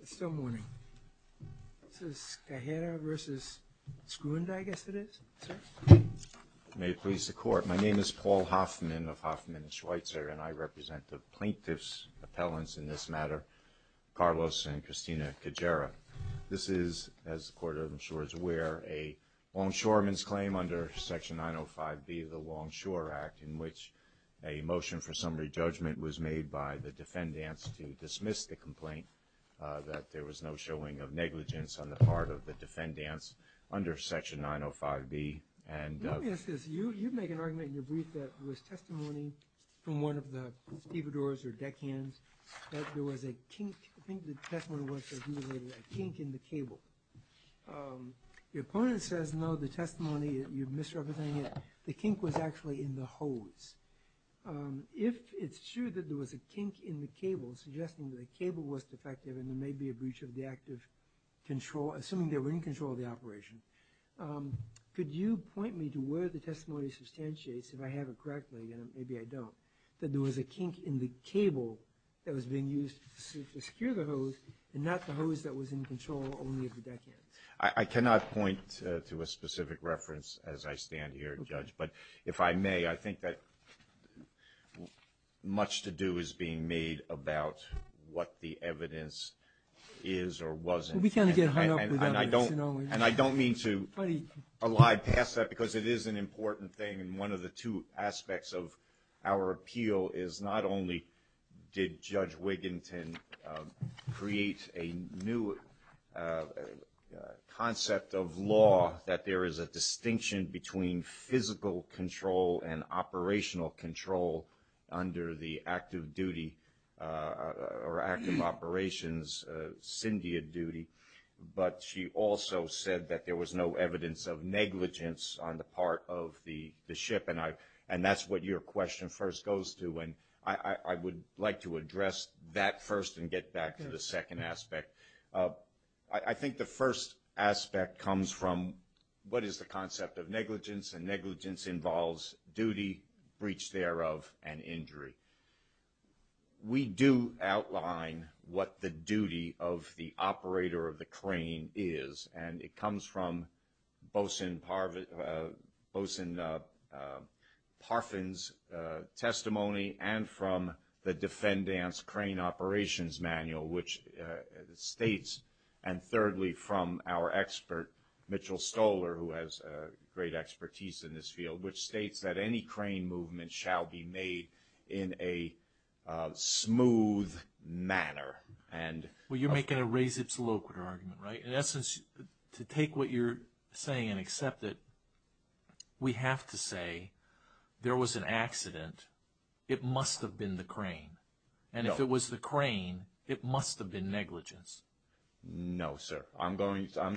It's still morning. This is Cajeira versus Skrunda, I guess it is, sir? May it please the Court. My name is Paul Hoffman of Hoffman & Schweitzer, and I represent the plaintiffs' appellants in this matter, Carlos and Christina Cajeira. This is, as the Court, I'm sure, is aware, a longshoreman's claim under Section 905B of the Longshore Act, in which a motion for summary judgment was made by the defendants to dismiss the complaint, that there was no showing of negligence on the part of the defendants under Section 905B. Let me ask this. You make an argument in your brief that there was testimony from one of the stevedores or deckhands that there was a kink. I think the testimony was that there was a kink in the cable. The opponent says, no, the testimony, you're misrepresenting it, the kink was actually in the hose. If it's true that there was a kink in the cable, suggesting that the cable was defective and there may be a breach of the active control, assuming they were in control of the operation, could you point me to where the testimony substantiates, if I have it correctly, and maybe I don't, that there was a kink in the cable that was being used to secure the hose and not the hose that was in control only of the deckhands? I cannot point to a specific reference as I stand here, Judge, but if I may, I think that much to do is being made about what the evidence is or wasn't. And I don't mean to elide past that because it is an important thing, and one of the two aspects of our appeal is not only did Judge Wiginton create a new concept of law that there is a distinction between physical control and operational control under the active duty or active operations, syndia duty, but she also said that there was no evidence of negligence on the part of the ship, and that's what your question first goes to. And I would like to address that first and get back to the second aspect. I think the first aspect comes from what is the concept of negligence, and negligence involves duty, breach thereof, and injury. We do outline what the duty of the operator of the crane is, and it comes from Bosen Parfen's testimony and from the defendant's crane operations manual, which states, and thirdly from our expert Mitchell Stoler, who has great expertise in this field, which states that any crane movement shall be made in a smooth manner. Well, you're making a res ipsa loquitur argument, right? In essence, to take what you're saying and accept it, we have to say there was an accident, it must have been the crane, and if it was the crane, it must have been negligence. No, sir. I'm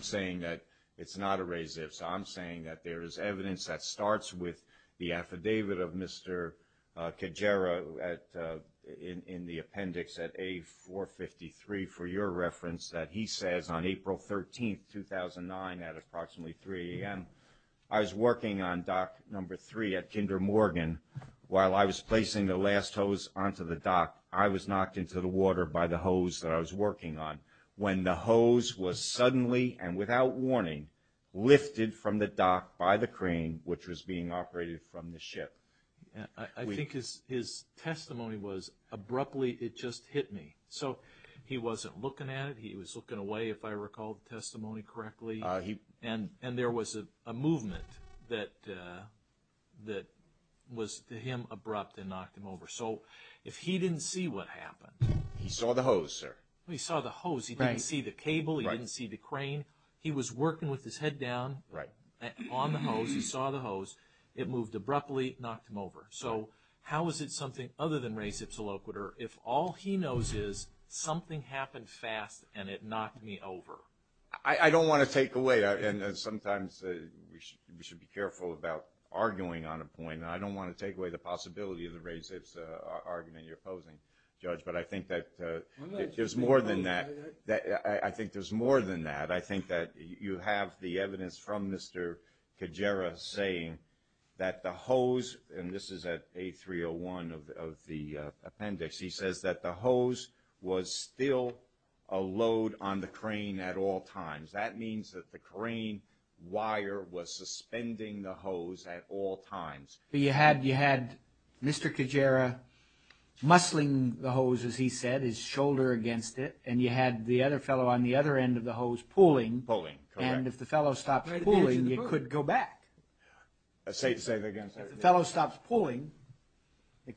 saying that it's not a res ipsa. I'm saying that there is evidence that starts with the affidavit of Mr. Kajara in the appendix at A453, for your reference, that he says on April 13th, 2009, at approximately 3 a.m., I was working on dock number three at Kinder Morgan while I was placing the last hose onto the dock. I was knocked into the water by the hose that I was working on. When the hose was suddenly, and without warning, lifted from the dock by the crane, which was being operated from the ship. I think his testimony was, abruptly, it just hit me. So, he wasn't looking at it, he was looking away, if I recall the testimony correctly, and there was a movement that was, to him, abrupt and knocked him over. So, if he didn't see what happened... He saw the hose, sir. He saw the hose. He didn't see the cable. He didn't see the crane. He was working with his head down on the hose. He saw the hose. It moved abruptly, knocked him over. So, how is it something other than res ipsa loquitur, if all he knows is something happened fast and it knocked me over? I don't want to take away, and sometimes we should be careful about arguing on a point. I don't want to take away the possibility of the res ipsa argument you're opposing, Judge, but I think that there's more than that. I think there's more than that. I think that you have the evidence from Mr. Kajara saying that the hose, and this is at 8301 of the appendix. He says that the hose was still a load on the crane at all times. That means that the crane wire was suspending the hose at all times. But you had Mr. Kajara muscling the hose, as he said, his shoulder against it, and you had the other fellow on the other end of the hose pulling. Pulling, correct. And if the fellow stopped pulling, you could go back. Say it again, sir. If the fellow stopped pulling, the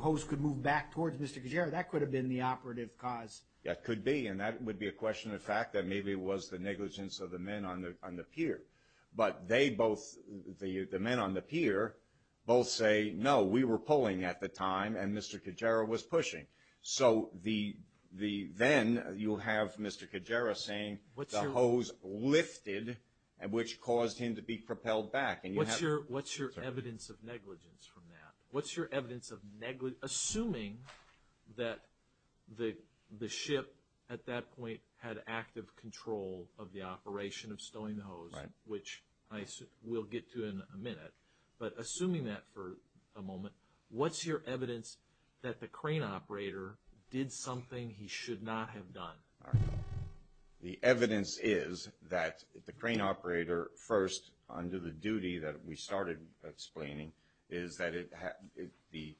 hose could move back towards Mr. Kajara. That could have been the operative cause. That could be, and that would be a question of fact, that maybe it was the negligence of the men on the pier. But they both, the men on the pier, both say, no, we were pulling at the time, and Mr. Kajara was pushing. So then you have Mr. Kajara saying the hose lifted, which caused him to be propelled back. What's your evidence of negligence from that? Assuming that the ship at that point had active control of the operation of stowing the hose, which we'll get to in a minute, but assuming that for a moment, what's your evidence that the crane operator did something he should not have done? The evidence is that the crane operator, first, under the duty that we started explaining, is that the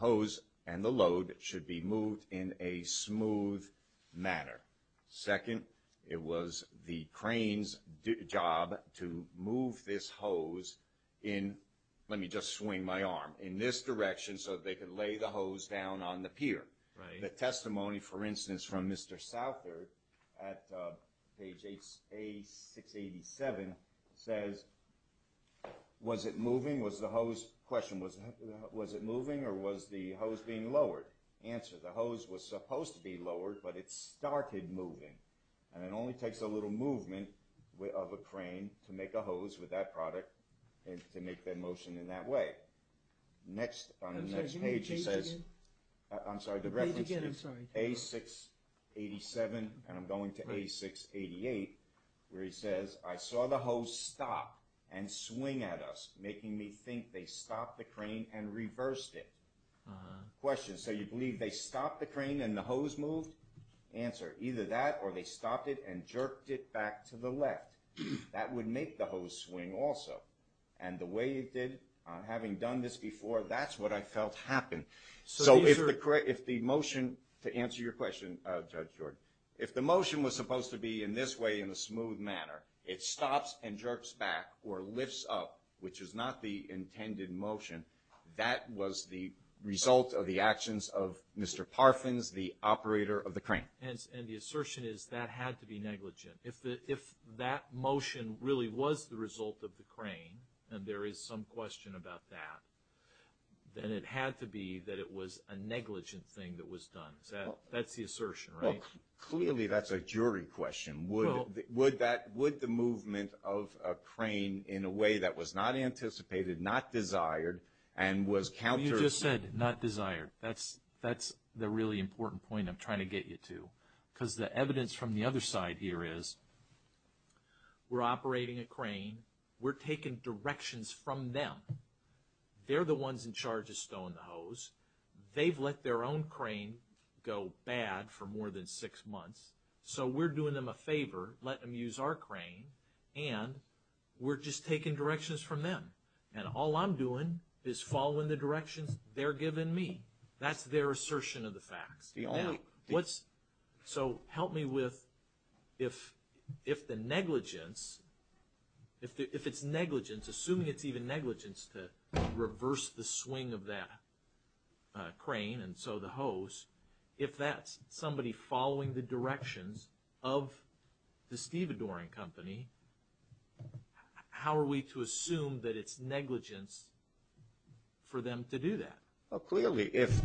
hose and the load should be moved in a smooth manner. Second, it was the crane's job to move this hose in, let me just swing my arm, in this direction, so that they could lay the hose down on the pier. The testimony, for instance, from Mr. Southard at page A687 says, was it moving, was the hose, question, was it moving or was the hose being lowered? Answer, the hose was supposed to be lowered, but it started moving, and it only takes a little movement of a crane to make a hose with that product and to make the motion in that way. On the next page, he says, I'm sorry, the reference is A687, and I'm going to A688, where he says, I saw the hose stop and swing at us, making me think they stopped the crane and reversed it. Question, so you believe they stopped the crane and the hose moved? Answer, either that or they stopped it and jerked it back to the left. That would make the hose swing also, and the way it did, having done this before, that's what I felt happened. So if the motion, to answer your question, Judge Jordan, if the motion was supposed to be in this way, in a smooth manner, it stops and jerks back or lifts up, which is not the intended motion, that was the result of the actions of Mr. Parfins, the operator of the crane. And the assertion is that had to be negligent. If that motion really was the result of the crane, and there is some question about that, then it had to be that it was a negligent thing that was done. That's the assertion, right? Well, clearly that's a jury question. Would the movement of a crane in a way that was not anticipated, not desired, and was counter- You just said not desired. That's the really important point I'm trying to get you to. Because the evidence from the other side here is, we're operating a crane, we're taking directions from them. They're the ones in charge of stowing the hose. They've let their own crane go bad for more than six months, so we're doing them a favor, letting them use our crane, and we're just taking directions from them. And all I'm doing is following the directions they're giving me. That's their assertion of the facts. So help me with if the negligence, if it's negligence, assuming it's even negligence to reverse the swing of that crane and so the hose, if that's somebody following the directions of the stevedoring company, how are we to assume that it's negligence for them to do that? Well, clearly if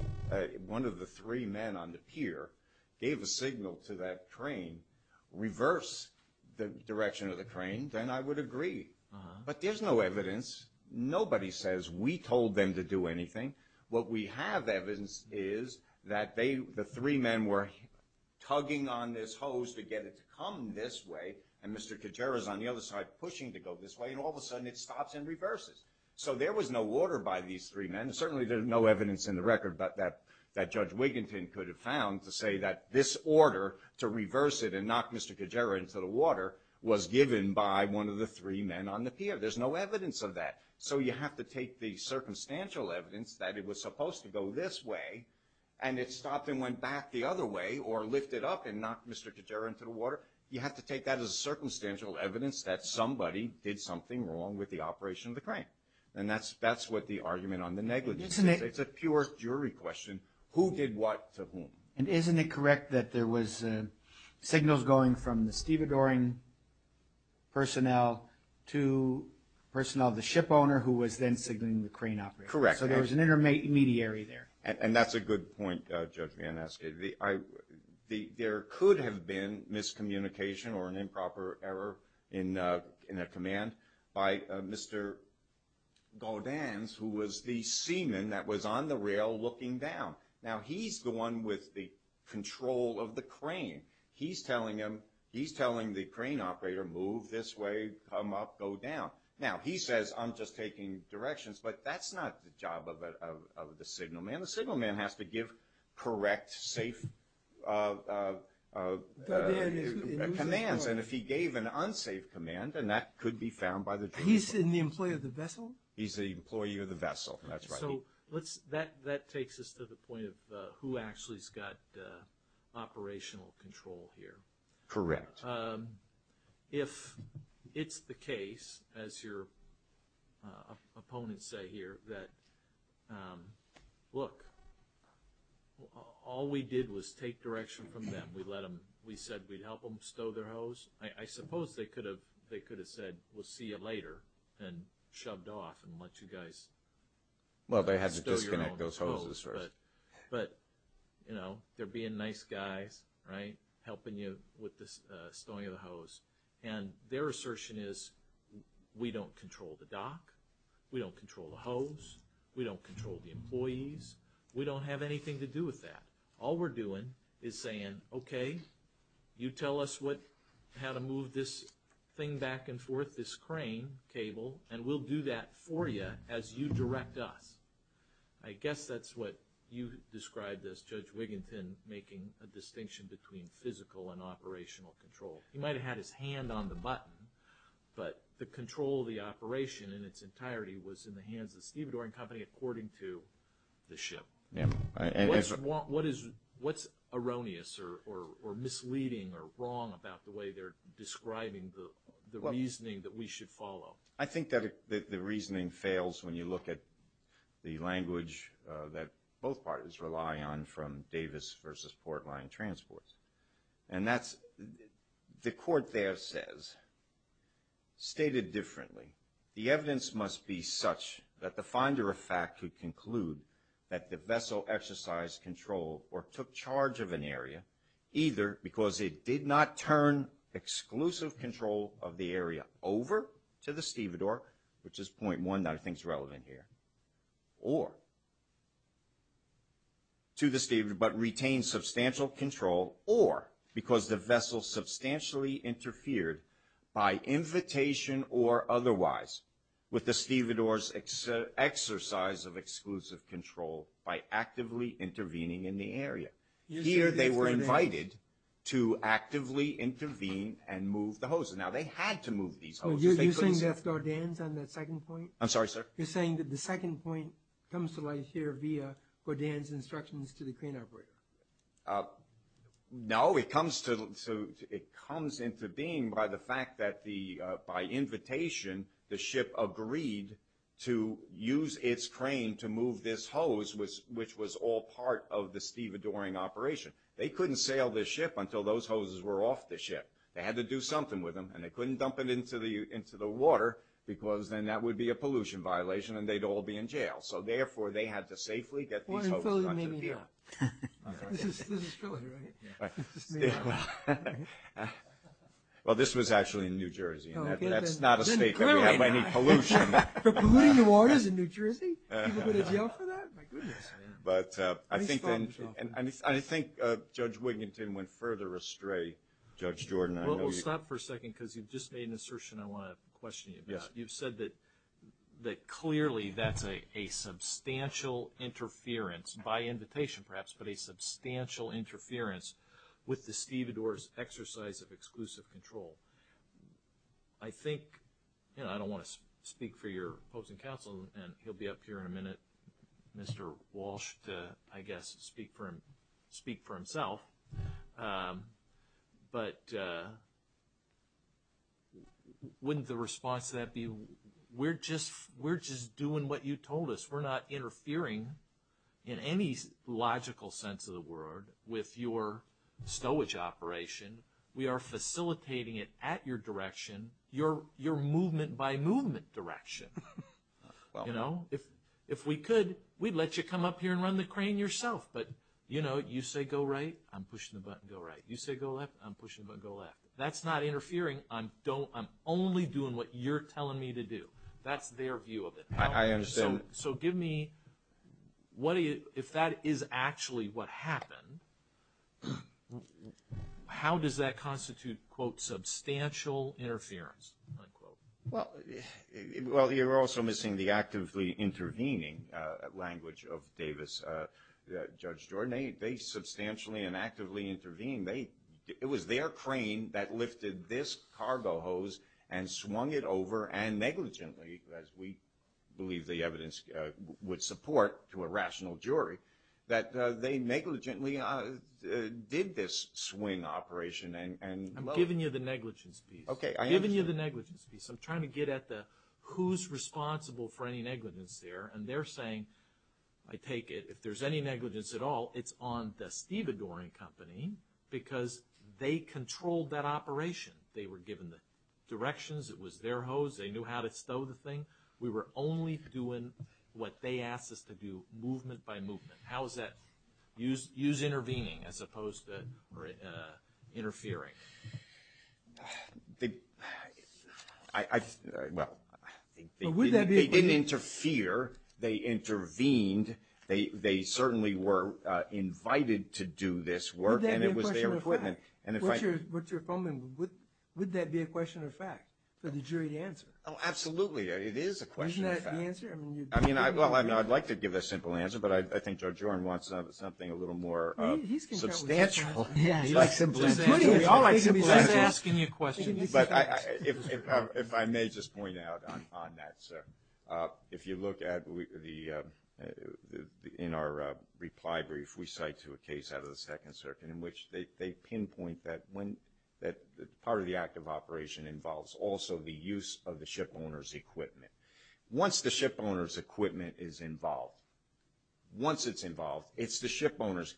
one of the three men on the pier gave a signal to that crane, reverse the direction of the crane, then I would agree. But there's no evidence. Nobody says we told them to do anything. What we have evidence is that the three men were tugging on this hose to get it to come this way, and Mr. Kajara's on the other side pushing to go this way, and all of a sudden it stops and reverses. So there was no order by these three men, and certainly there's no evidence in the record that Judge Wiginton could have found to say that this order to reverse it and knock Mr. Kajara into the water was given by one of the three men on the pier. There's no evidence of that. So you have to take the circumstantial evidence that it was supposed to go this way, and it stopped and went back the other way or lifted up and knocked Mr. Kajara into the water. You have to take that as circumstantial evidence that somebody did something wrong with the operation of the crane, and that's what the argument on the negligence is. It's a pure jury question. Who did what to whom? And isn't it correct that there was signals going from the stevedoring personnel to personnel of the ship owner who was then signaling the crane operation? Correct. So there was an intermediary there. And that's a good point, Judge Van Aske. There could have been miscommunication or an improper error in a command by Mr. Gaudens, who was the seaman that was on the rail looking down. Now, he's the one with the control of the crane. He's telling the crane operator, move this way, come up, go down. Now, he says, I'm just taking directions, but that's not the job of the signal man. The signal man has to give correct, safe commands. And if he gave an unsafe command, then that could be found by the jury. He's the employee of the vessel? He's the employee of the vessel. That's right. So that takes us to the point of who actually has got operational control here. Correct. If it's the case, as your opponents say here, that, look, all we did was take direction from them. We said we'd help them stow their hose. I suppose they could have said, we'll see you later and shoved off and let you guys stow your own hose. Well, they had to disconnect those hoses first. But, you know, they're being nice guys, right, helping you with the stowing of the hose. And their assertion is, we don't control the dock. We don't control the hose. We don't control the employees. We don't have anything to do with that. All we're doing is saying, okay, you tell us how to move this thing back and forth, this crane cable, and we'll do that for you as you direct us. I guess that's what you described as Judge Wiginton making a distinction between physical and operational control. He might have had his hand on the button, but the control of the operation in its entirety was in the hands of the Stevedore & Company according to the ship. What's erroneous or misleading or wrong about the way they're describing the reasoning that we should follow? I think that the reasoning fails when you look at the language that both parties rely on from Davis versus Port Lyon Transport. And that's, the court there says, stated differently, the evidence must be such that the finder of fact could conclude that the vessel exercised control or took charge of an area either because it did not turn exclusive control of the area over to the Stevedore, which is point one that I think is relevant here, or to the Stevedore, but retained substantial control or because the vessel substantially interfered by invitation or otherwise with the Stevedore's exercise of exclusive control by actively intervening in the area. Here they were invited to actively intervene and move the hoses. Now, they had to move these hoses. You're saying that's Gordans on that second point? I'm sorry, sir? You're saying that the second point comes to light here via Gordans' instructions to the crane operator? No, it comes into being by the fact that by invitation the ship agreed to use its crane to move this hose, which was all part of the Stevedoring operation. They couldn't sail this ship until those hoses were off the ship. They had to do something with them, and they couldn't dump it into the water, because then that would be a pollution violation and they'd all be in jail. So, therefore, they had to safely get these hoses out of here. This is Philly, right? Well, this was actually in New Jersey. That's not a state that we have any pollution. For polluting the waters in New Jersey? People go to jail for that? My goodness. I think Judge Wiginton went further astray, Judge Jordan. We'll stop for a second because you've just made an assertion I want to question you about. You've said that clearly that's a substantial interference, by invitation perhaps, but a substantial interference with the Stevedore's exercise of exclusive control. I think, you know, I don't want to speak for your opposing counsel, and he'll be up here in a minute, Mr. Walsh, to, I guess, speak for himself, but wouldn't the response to that be, we're just doing what you told us. We're not interfering in any logical sense of the word with your stowage operation. We are facilitating it at your direction, your movement-by-movement direction. If we could, we'd let you come up here and run the crane yourself, but, you know, you say go right, I'm pushing the button, go right. You say go left, I'm pushing the button, go left. If that's not interfering, I'm only doing what you're telling me to do. That's their view of it. I understand. So give me, if that is actually what happened, how does that constitute, quote, substantial interference, unquote? Well, you're also missing the actively intervening language of Davis. Judge Jordan, they substantially and actively intervened. It was their crane that lifted this cargo hose and swung it over and negligently, as we believe the evidence would support to a rational jury, that they negligently did this swing operation. I'm giving you the negligence piece. Okay, I understand. I'm giving you the negligence piece. I'm trying to get at the who's responsible for any negligence there, and they're saying, I take it, if there's any negligence at all, it's on the Stevadorian Company because they controlled that operation. They were given the directions. It was their hose. They knew how to stow the thing. We were only doing what they asked us to do, movement-by-movement. How is that? Use intervening as opposed to interfering. They didn't interfere. They intervened. They certainly were invited to do this work, and it was their equipment. Would that be a question of fact for the jury to answer? Oh, absolutely. It is a question of fact. Isn't that the answer? Well, I'd like to give a simple answer, but I think Judge Oren wants something a little more substantial. He likes simple answers. We all like simple answers. He's asking you questions. If I may just point out on that, sir, if you look in our reply brief, we cite to a case out of the Second Circuit in which they pinpoint that part of the act of operation involves also the use of the shipowner's equipment. Once the shipowner's equipment is involved, once it's involved, it's the shipowner's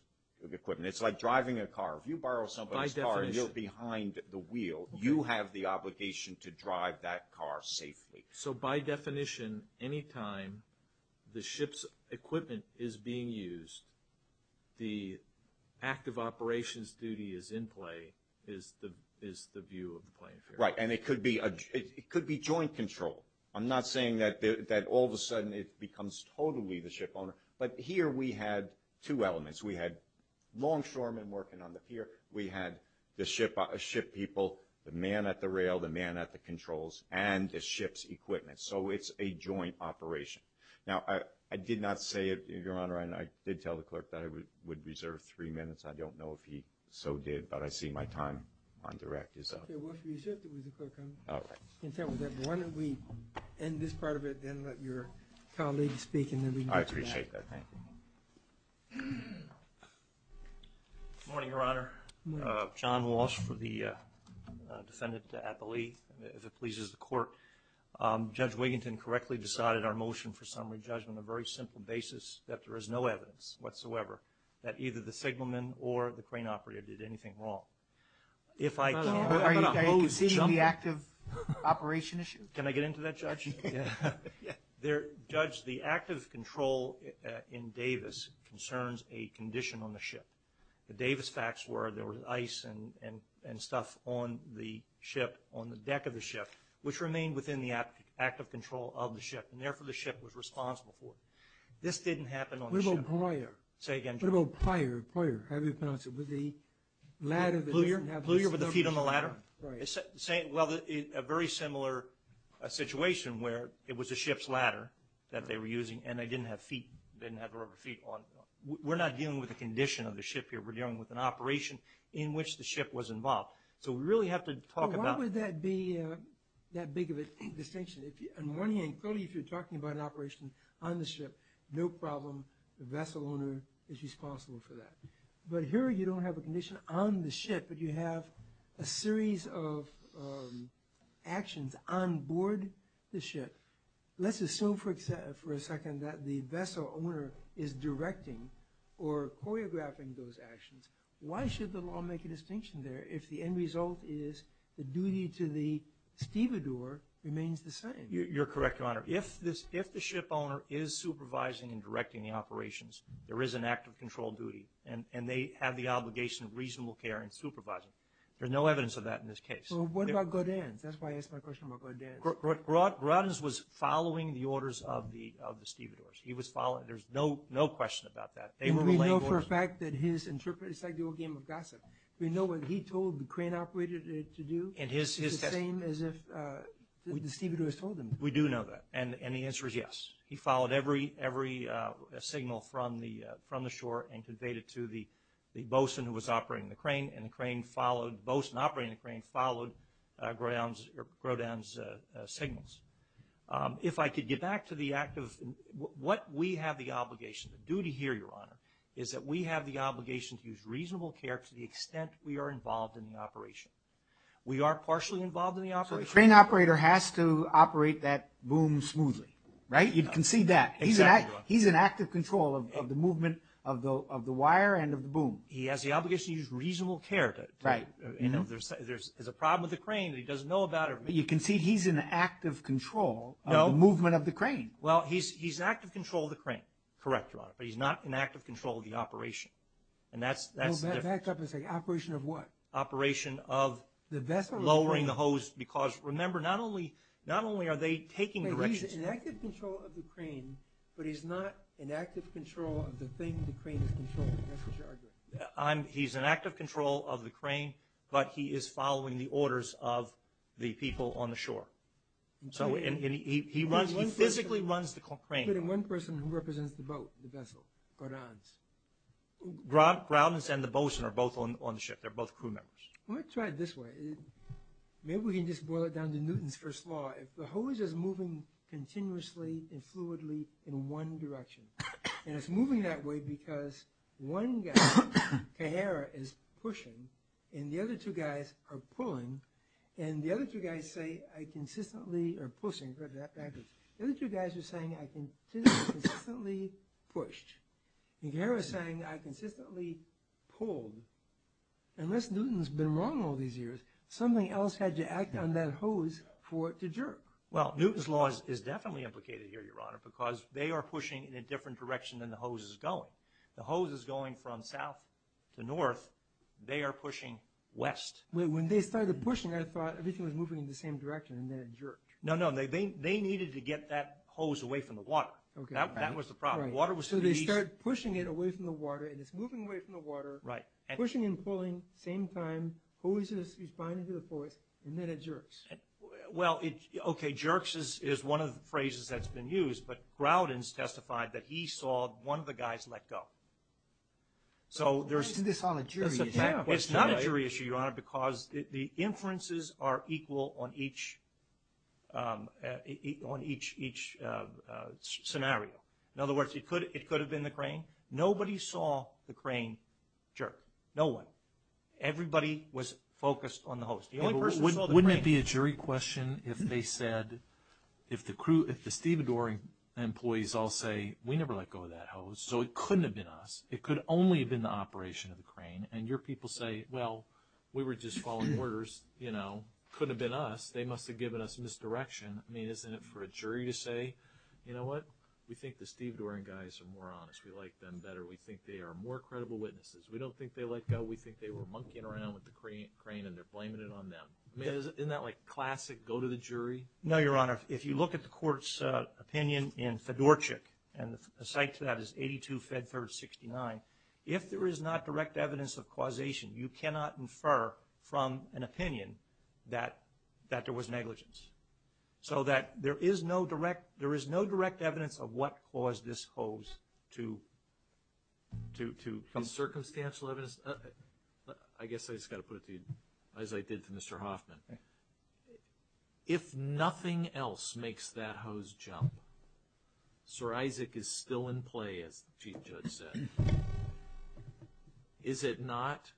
equipment. It's like driving a car. If you borrow somebody's car and you're behind the wheel, you have the obligation to drive that car safely. So by definition, any time the ship's equipment is being used, the act of operations duty is in play is the view of the plaintiff. Right, and it could be joint control. I'm not saying that all of a sudden it becomes totally the shipowner, but here we had two elements. We had longshoremen working on the pier. We had the ship people, the man at the rail, the man at the controls, and the ship's equipment. So it's a joint operation. Now, I did not say it, Your Honor, and I did tell the clerk that I would reserve three minutes. I don't know if he so did, but I see my time on direct is up. All right. Why don't we end this part of it and let your colleague speak. I appreciate that. Thank you. Good morning, Your Honor. John Walsh for the defendant at the lead, if it pleases the court. Judge Wiginton correctly decided our motion for summary judgment on a very simple basis, that there is no evidence whatsoever that either the signalman or the crane operator did anything wrong. Are you conceding the active operation issue? Can I get into that, Judge? Yeah. Judge, the active control in Davis concerns a condition on the ship. The Davis facts were there was ice and stuff on the deck of the ship, which remained within the active control of the ship, and therefore the ship was responsible for it. This didn't happen on the ship. What about prior? Say again, Judge. What about prior? What about prior? How do you pronounce it? Was it the ladder? Plewyer? Plewyer with the feet on the ladder? Right. Well, a very similar situation where it was the ship's ladder that they were using and they didn't have feet. They didn't have rubber feet on. We're not dealing with the condition of the ship here. We're dealing with an operation in which the ship was involved. So we really have to talk about – Well, why would that be that big of a distinction? If you're talking about an operation on the ship, no problem. The vessel owner is responsible for that. But here you don't have a condition on the ship, but you have a series of actions on board the ship. Let's assume for a second that the vessel owner is directing or choreographing those actions. Why should the law make a distinction there if the end result is the duty to the stevedore remains the same? You're correct, Your Honor. If the ship owner is supervising and directing the operations, there is an act of controlled duty, and they have the obligation of reasonable care in supervising. There's no evidence of that in this case. Well, what about Godin? That's why I asked my question about Godin. Roddens was following the orders of the stevedores. He was following – there's no question about that. They were relaying orders. We know for a fact that his – it's like the old game of gossip. We know what he told the crane operator to do. It's the same as if the stevedores told him. We do know that, and the answer is yes. He followed every signal from the shore and conveyed it to the bosun who was operating the crane, and the crane followed – bosun operating the crane followed Godin's signals. If I could get back to the act of – what we have the obligation to do here, Your Honor, is that we have the obligation to use reasonable care to the extent we are involved in the operation. We are partially involved in the operation. So the crane operator has to operate that boom smoothly, right? You can see that. Exactly, Your Honor. He's in active control of the movement of the wire and of the boom. He has the obligation to use reasonable care. Right. There's a problem with the crane that he doesn't know about. You can see he's in active control of the movement of the crane. Well, he's in active control of the crane. Correct, Your Honor, but he's not in active control of the operation, and that's different. Back up a second. Operation of what? Operation of lowering the hose because, remember, not only are they taking directions. He's in active control of the crane, but he's not in active control of the thing the crane is controlling. That's what you're arguing. He's in active control of the crane, but he is following the orders of the people on the shore. He physically runs the crane. One person who represents the boat, the vessel, Godin's. Grounds and the boats are both on the ship. They're both crew members. Well, let's try it this way. Maybe we can just boil it down to Newton's First Law. If the hose is moving continuously and fluidly in one direction, and it's moving that way because one guy, Kahara, is pushing, and the other two guys are pulling, and the other two guys say, I consistently are pushing. The other two guys are saying, I consistently pushed. Kahara is saying, I consistently pulled. Unless Newton's been wrong all these years, something else had to act on that hose for it to jerk. Well, Newton's Law is definitely implicated here, Your Honor, because they are pushing in a different direction than the hose is going. The hose is going from south to north. They are pushing west. When they started pushing, I thought everything was moving in the same direction, and then it jerked. No, no. They needed to get that hose away from the water. That was the problem. Right. So they start pushing it away from the water, and it's moving away from the water, pushing and pulling at the same time. The hose is flying into the forest, and then it jerks. Well, okay, jerks is one of the phrases that's been used, but Groudon's testified that he saw one of the guys let go. So there's a fact. Let's do this on a jury issue. It's not a jury issue, Your Honor, because the inferences are equal on each scenario. In other words, it could have been the crane. Nobody saw the crane jerk. No one. Everybody was focused on the hose. The only person who saw the crane. Wouldn't it be a jury question if they said, if the Stevedore employees all say, we never let go of that hose, so it couldn't have been us. It could only have been the operation of the crane, and your people say, well, we were just following orders, you know. It couldn't have been us. They must have given us misdirection. I mean, isn't it for a jury to say, you know what? We think the Stevedore guys are more honest. We like them better. We think they are more credible witnesses. We don't think they let go. We think they were monkeying around with the crane, and they're blaming it on them. Isn't that like classic go to the jury? No, Your Honor. If you look at the court's opinion in Fedorchik, and the site to that is 82 Fedford 69, if there is not direct evidence of causation, you cannot infer from an opinion that there was negligence. So that there is no direct evidence of what caused this hose to come. Circumstantial evidence? I guess I just got to put it to you, as I did to Mr. Hoffman. If nothing else makes that hose jump, Sir Isaac is still in play, as the Chief Judge said. Is it not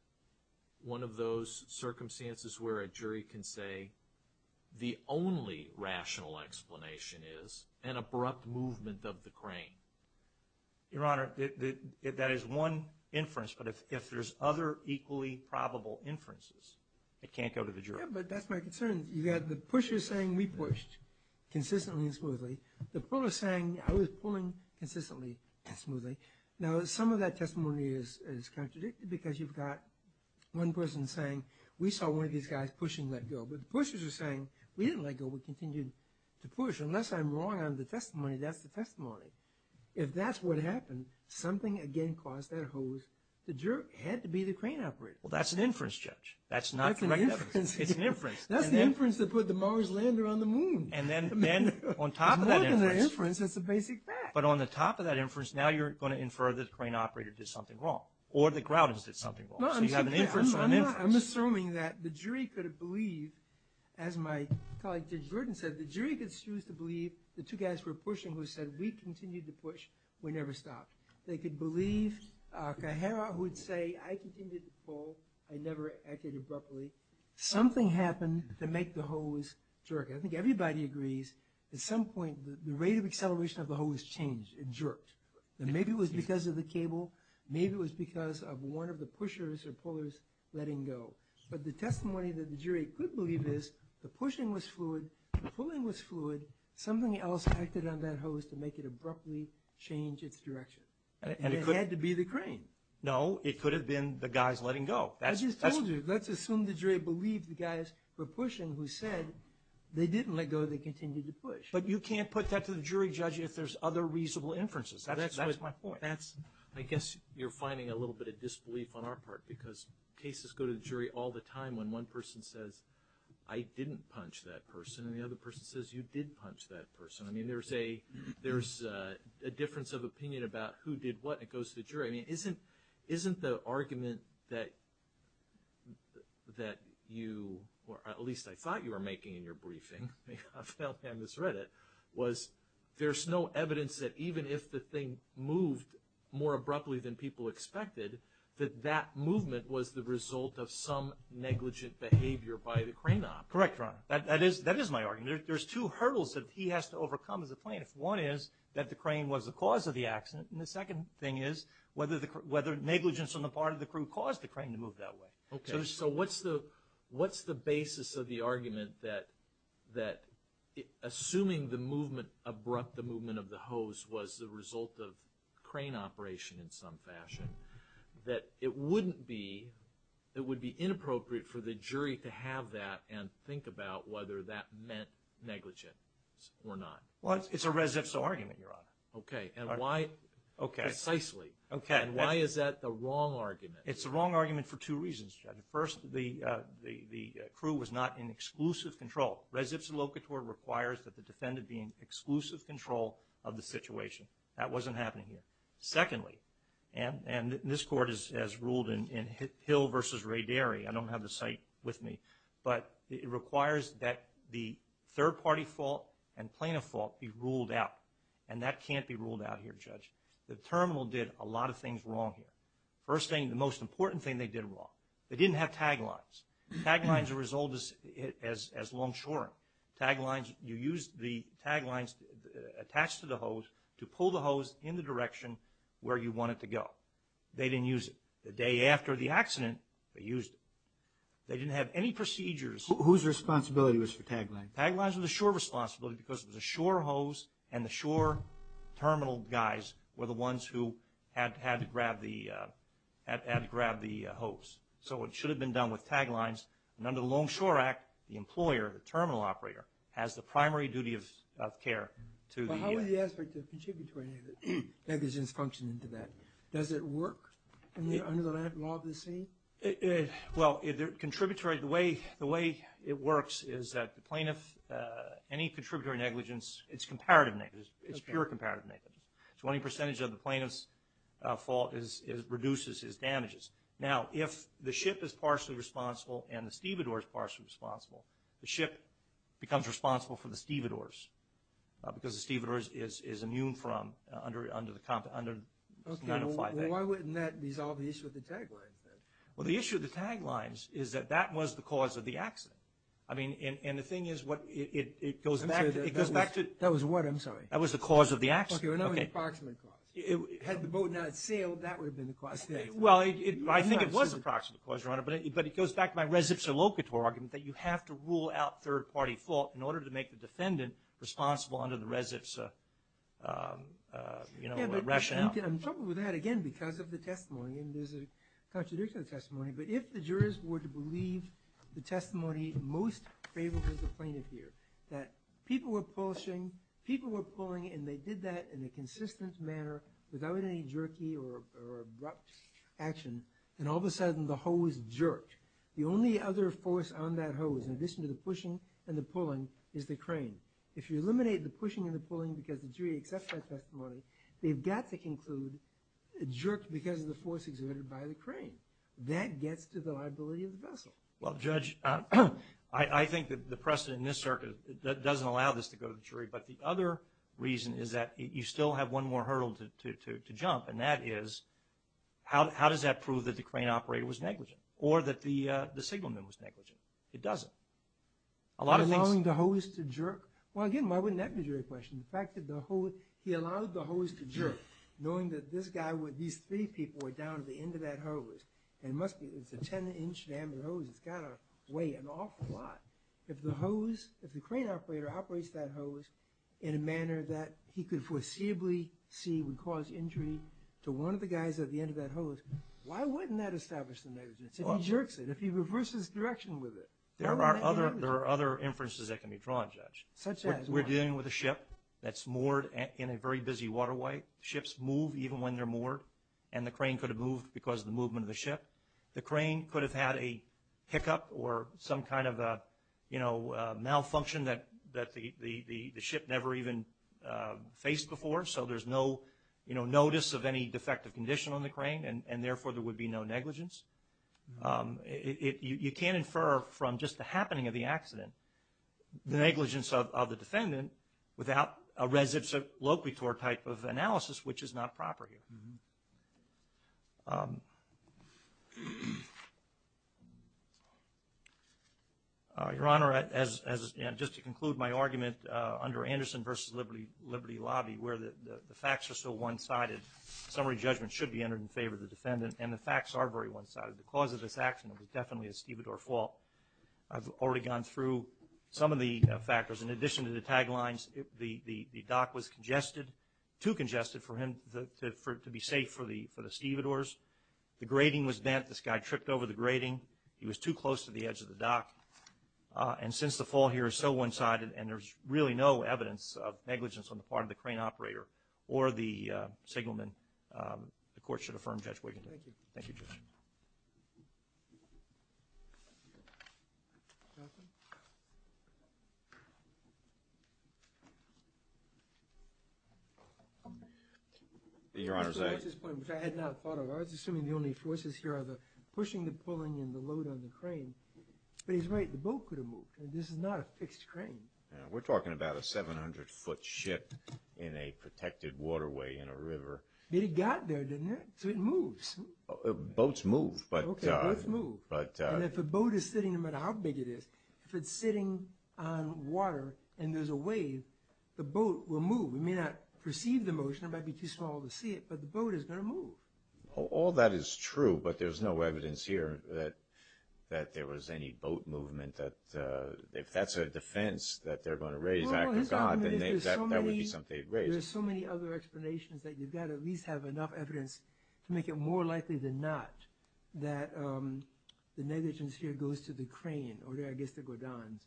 one of those circumstances where a jury can say, the only rational explanation is an abrupt movement of the crane? Your Honor, that is one inference, but if there's other equally probable inferences, it can't go to the jury. Yeah, but that's my concern. You've got the pusher saying, we pushed consistently and smoothly. The puller saying, I was pulling consistently and smoothly. Now some of that testimony is contradicted, because you've got one person saying, we saw one of these guys push and let go. But the pushers are saying, we didn't let go, we continued to push. Unless I'm wrong on the testimony, that's the testimony. If that's what happened, something again caused that hose to jerk. It had to be the crane operator. Well, that's an inference, Judge. That's not direct evidence. It's an inference. That's the inference that put the Mars lander on the moon. And then on top of that inference... It's more than an inference, it's a basic fact. But on the top of that inference, now you're going to infer that the crane operator did something wrong, or the grouters did something wrong. I'm assuming that the jury could have believed, as my colleague Judge Burton said, the jury could choose to believe the two guys were pushing who said, we continued to push, we never stopped. They could believe Cajera, who would say, I continued to pull, I never acted abruptly. Something happened to make the hose jerk. I think everybody agrees, at some point, the rate of acceleration of the hose changed, it jerked. Maybe it was because of the cable, maybe it was because of one of the pushers or pullers letting go. But the testimony that the jury could believe is, the pushing was fluid, the pulling was fluid, something else acted on that hose to make it abruptly change its direction. And it had to be the crane. No, it could have been the guys letting go. I just told you. Let's assume the jury believed the guys were pushing who said, they didn't let go, they continued to push. But you can't put that to the jury, Judge, if there's other reasonable inferences. That's my point. I guess you're finding a little bit of disbelief on our part, because cases go to the jury all the time when one person says, I didn't punch that person, and the other person says, you did punch that person. I mean, there's a difference of opinion about who did what, and it goes to the jury. I mean, isn't the argument that you, or at least I thought you were making in your briefing, I've now misread it, was there's no evidence that even if the thing moved more abruptly than people expected, that that movement was the result of some negligent behavior by the crane op. Correct, Your Honor. That is my argument. There's two hurdles that he has to overcome as a plaintiff. One is that the crane was the cause of the accident, and the second thing is whether negligence on the part of the crew caused the crane to move that way. Okay. So what's the basis of the argument that assuming the movement, abrupt the movement of the hose, was the result of crane operation in some fashion, that it wouldn't be, it would be inappropriate for the jury to have that and think about whether that meant negligence or not. Well, it's a res-if-so argument, Your Honor. Okay, and why, precisely. Okay. And why is that the wrong argument? It's the wrong argument for two reasons, Judge. First, the crew was not in exclusive control. Res-if-so locator requires that the defendant be in exclusive control of the situation. That wasn't happening here. Secondly, and this Court has ruled in Hill v. Ray Derry, I don't have the site with me, but it requires that the third-party fault and plaintiff fault be ruled out, and that can't be ruled out here, Judge. The terminal did a lot of things wrong here. First thing, the most important thing they did wrong, they didn't have tag lines. Tag lines are as old as long shoring. Tag lines, you use the tag lines attached to the hose to pull the hose in the direction where you want it to go. They didn't use it. The day after the accident, they used it. They didn't have any procedures. Whose responsibility was for tag lines? Tag lines were the shore responsibility because it was a shore hose and the plaintiff had to grab the hose. So it should have been done with tag lines. And under the Long Shore Act, the employer, the terminal operator, has the primary duty of care to the- But how would the aspect of contributory negligence function into that? Does it work under the law of the sea? Well, the way it works is that the plaintiff, any contributory negligence, it's comparative negligence. It's pure comparative negligence. Twenty percentage of the plaintiff's fault reduces his damages. Now, if the ship is partially responsible and the stevedore is partially responsible, the ship becomes responsible for the stevedores because the stevedores is immune from under the- Okay, well, why wouldn't that resolve the issue of the tag lines then? Well, the issue of the tag lines is that that was the cause of the accident. I mean, and the thing is, it goes back to- That was what? I'm sorry. That was the cause of the accident. Okay, well, not an approximate cause. Had the boat not sailed, that would have been the cause. Well, I think it was an approximate cause, Your Honor, but it goes back to my res ipsa locator argument that you have to rule out third-party fault in order to make the defendant responsible under the res ipsa rationale. I'm troubled with that, again, because of the testimony. And there's a contradiction in the testimony, but if the jurors were to believe the testimony most favorable to the plaintiff here, that people were pulling and they did that in a consistent manner without any jerky or abrupt action, then all of a sudden the hose jerked. The only other force on that hose, in addition to the pushing and the pulling, is the crane. If you eliminate the pushing and the pulling because the jury accepts that testimony, they've got to conclude it jerked because of the force exerted by the crane. That gets to the liability of the vessel. Well, Judge, I think that the precedent in this circuit doesn't allow this to go to the jury, but the other reason is that you still have one more hurdle to jump, and that is how does that prove that the crane operator was negligent or that the signalman was negligent? It doesn't. Allowing the hose to jerk? Well, again, why wouldn't that be a jury question? The fact that the hose, he allowed the hose to jerk, knowing that this guy, these three people were down at the end of that hose, and it must be, it's a 10-inch diameter hose. It's got to weigh an awful lot. If the hose, if the crane operator operates that hose in a manner that he could foreseeably see would cause injury to one of the guys at the end of that hose, why wouldn't that establish the negligence if he jerks it, if he reverses direction with it? There are other inferences that can be drawn, Judge. Such as what? We're dealing with a ship that's moored in a very busy waterway. Ships move even when they're moored, and the crane could have moved because of the movement of the ship. The crane could have had a hiccup or some kind of a, you know, malfunction that the ship never even faced before. So there's no, you know, notice of any defective condition on the crane, and therefore there would be no negligence. You can't infer from just the happening of the accident the negligence of the defendant without a res ipsa locator type of analysis, which is not proper here. Your Honor, just to conclude my argument, under Anderson v. Liberty Lobby, where the facts are so one-sided, summary judgment should be entered in favor of the defendant, and the facts are very one-sided. The cause of this accident was definitely a stevedore fault. I've already gone through some of the factors. In addition to the tag lines, the dock was congested, too congested for him to be safe for the stevedores. The grating was bent. This guy tripped over the grating. He was too close to the edge of the dock. And since the fault here is so one-sided and there's really no evidence of negligence on the part of the crane operator or the signalman, the court should affirm Judge Wiggins. Thank you. Thank you, Judge. Your Honor, at this point, which I had not thought of, I was assuming the only forces here are the pushing, the pulling, and the load on the crane. But he's right. The boat could have moved. This is not a fixed crane. We're talking about a 700-foot ship in a protected waterway in a river. But it got there, didn't it? So it moves. Boats move. Okay, boats move. And if a boat is sitting, no matter how big it is, if it's sitting on water and there's a wave, the boat will move. We may not perceive the motion. It might be too small to see it, but the boat is going to move. All that is true, but there's no evidence here that there was any boat movement. If that's a defense that they're going to raise after God, then that would be something they'd raise. There's so many other explanations that you've got to at least have enough evidence to make it more likely than not that the negligence here goes to the crane, or I guess the guidons,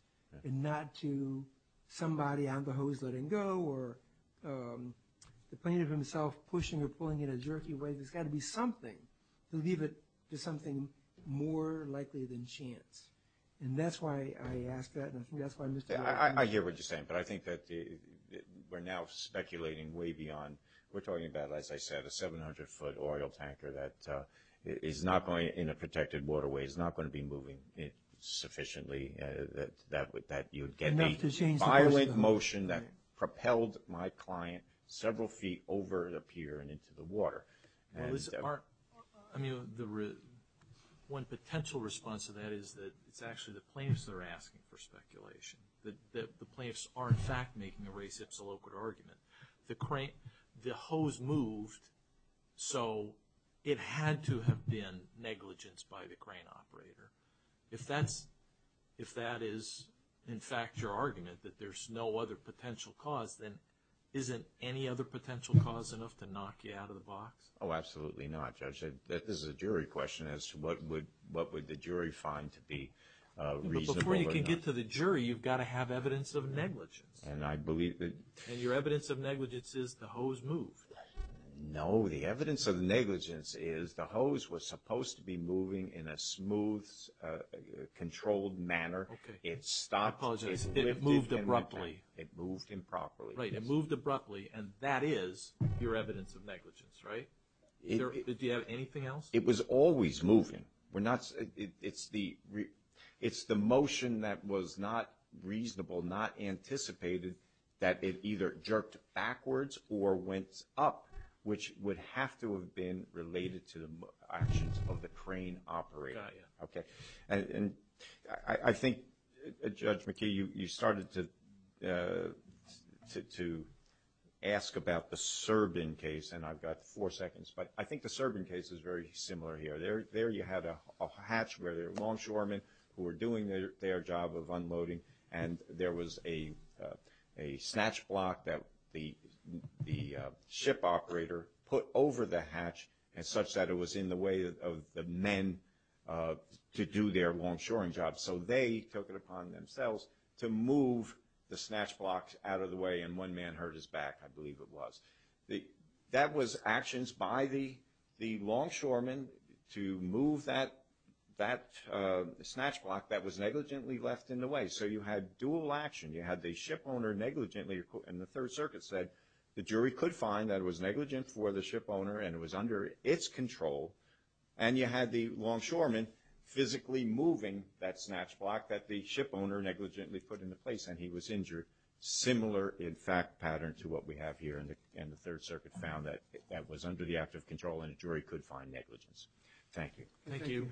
and not to somebody on the hose letting go, or the plaintiff himself pushing or pulling in a jerky way. There's got to be something to leave it to something more likely than chance. And that's why I ask that, and I think that's why Mr. Martin. I hear what you're saying. But I think that we're now speculating way beyond. We're talking about, as I said, a 700-foot oil tanker that is not going in a protected waterway, is not going to be moving sufficiently that you'd get the violent motion that propelled my client several feet over the pier and into the water. Well, one potential response to that is that it's actually the plaintiffs that are asking for speculation, that the plaintiffs are in fact making a case-absolute argument. The hose moved, so it had to have been negligence by the crane operator. If that is, in fact, your argument, that there's no other potential cause, then isn't any other potential cause enough to knock you out of the box? Oh, absolutely not, Judge. This is a jury question as to what would the jury find to be reasonable or not. But before you can get to the jury, you've got to have evidence of negligence. And your evidence of negligence is the hose moved. No, the evidence of negligence is the hose was supposed to be moving in a smooth, controlled manner. It stopped. I apologize. It moved abruptly. It moved improperly. Right. It moved abruptly, and that is your evidence of negligence, right? Do you have anything else? It was always moving. It's the motion that was not reasonable, not anticipated, that it either jerked backwards or went up, which would have to have been related to the actions of the crane operator. Got you. Okay. And I think, Judge McKee, you started to ask about the Serbin case, and I've got four seconds. But I think the Serbin case is very similar here. There you had a hatch where there were longshoremen who were doing their job of unloading, and there was a snatch block that the ship operator put over the hatch such that it was in the way of the men to do their longshoring job. So they took it upon themselves to move the snatch block out of the way, and one man hurt his back, I believe it was. That was actions by the longshoremen to move that snatch block that was negligently left in the way. So you had dual action. You had the ship owner negligently, and the Third Circuit said the jury could find that it was negligent for the ship owner and it was under its control, and you had the longshoremen physically moving that snatch block that the ship owner negligently put into place, and he was injured. So a very similar, in fact, pattern to what we have here, and the Third Circuit found that that was under the act of control and a jury could find negligence. Thank you. Thank you.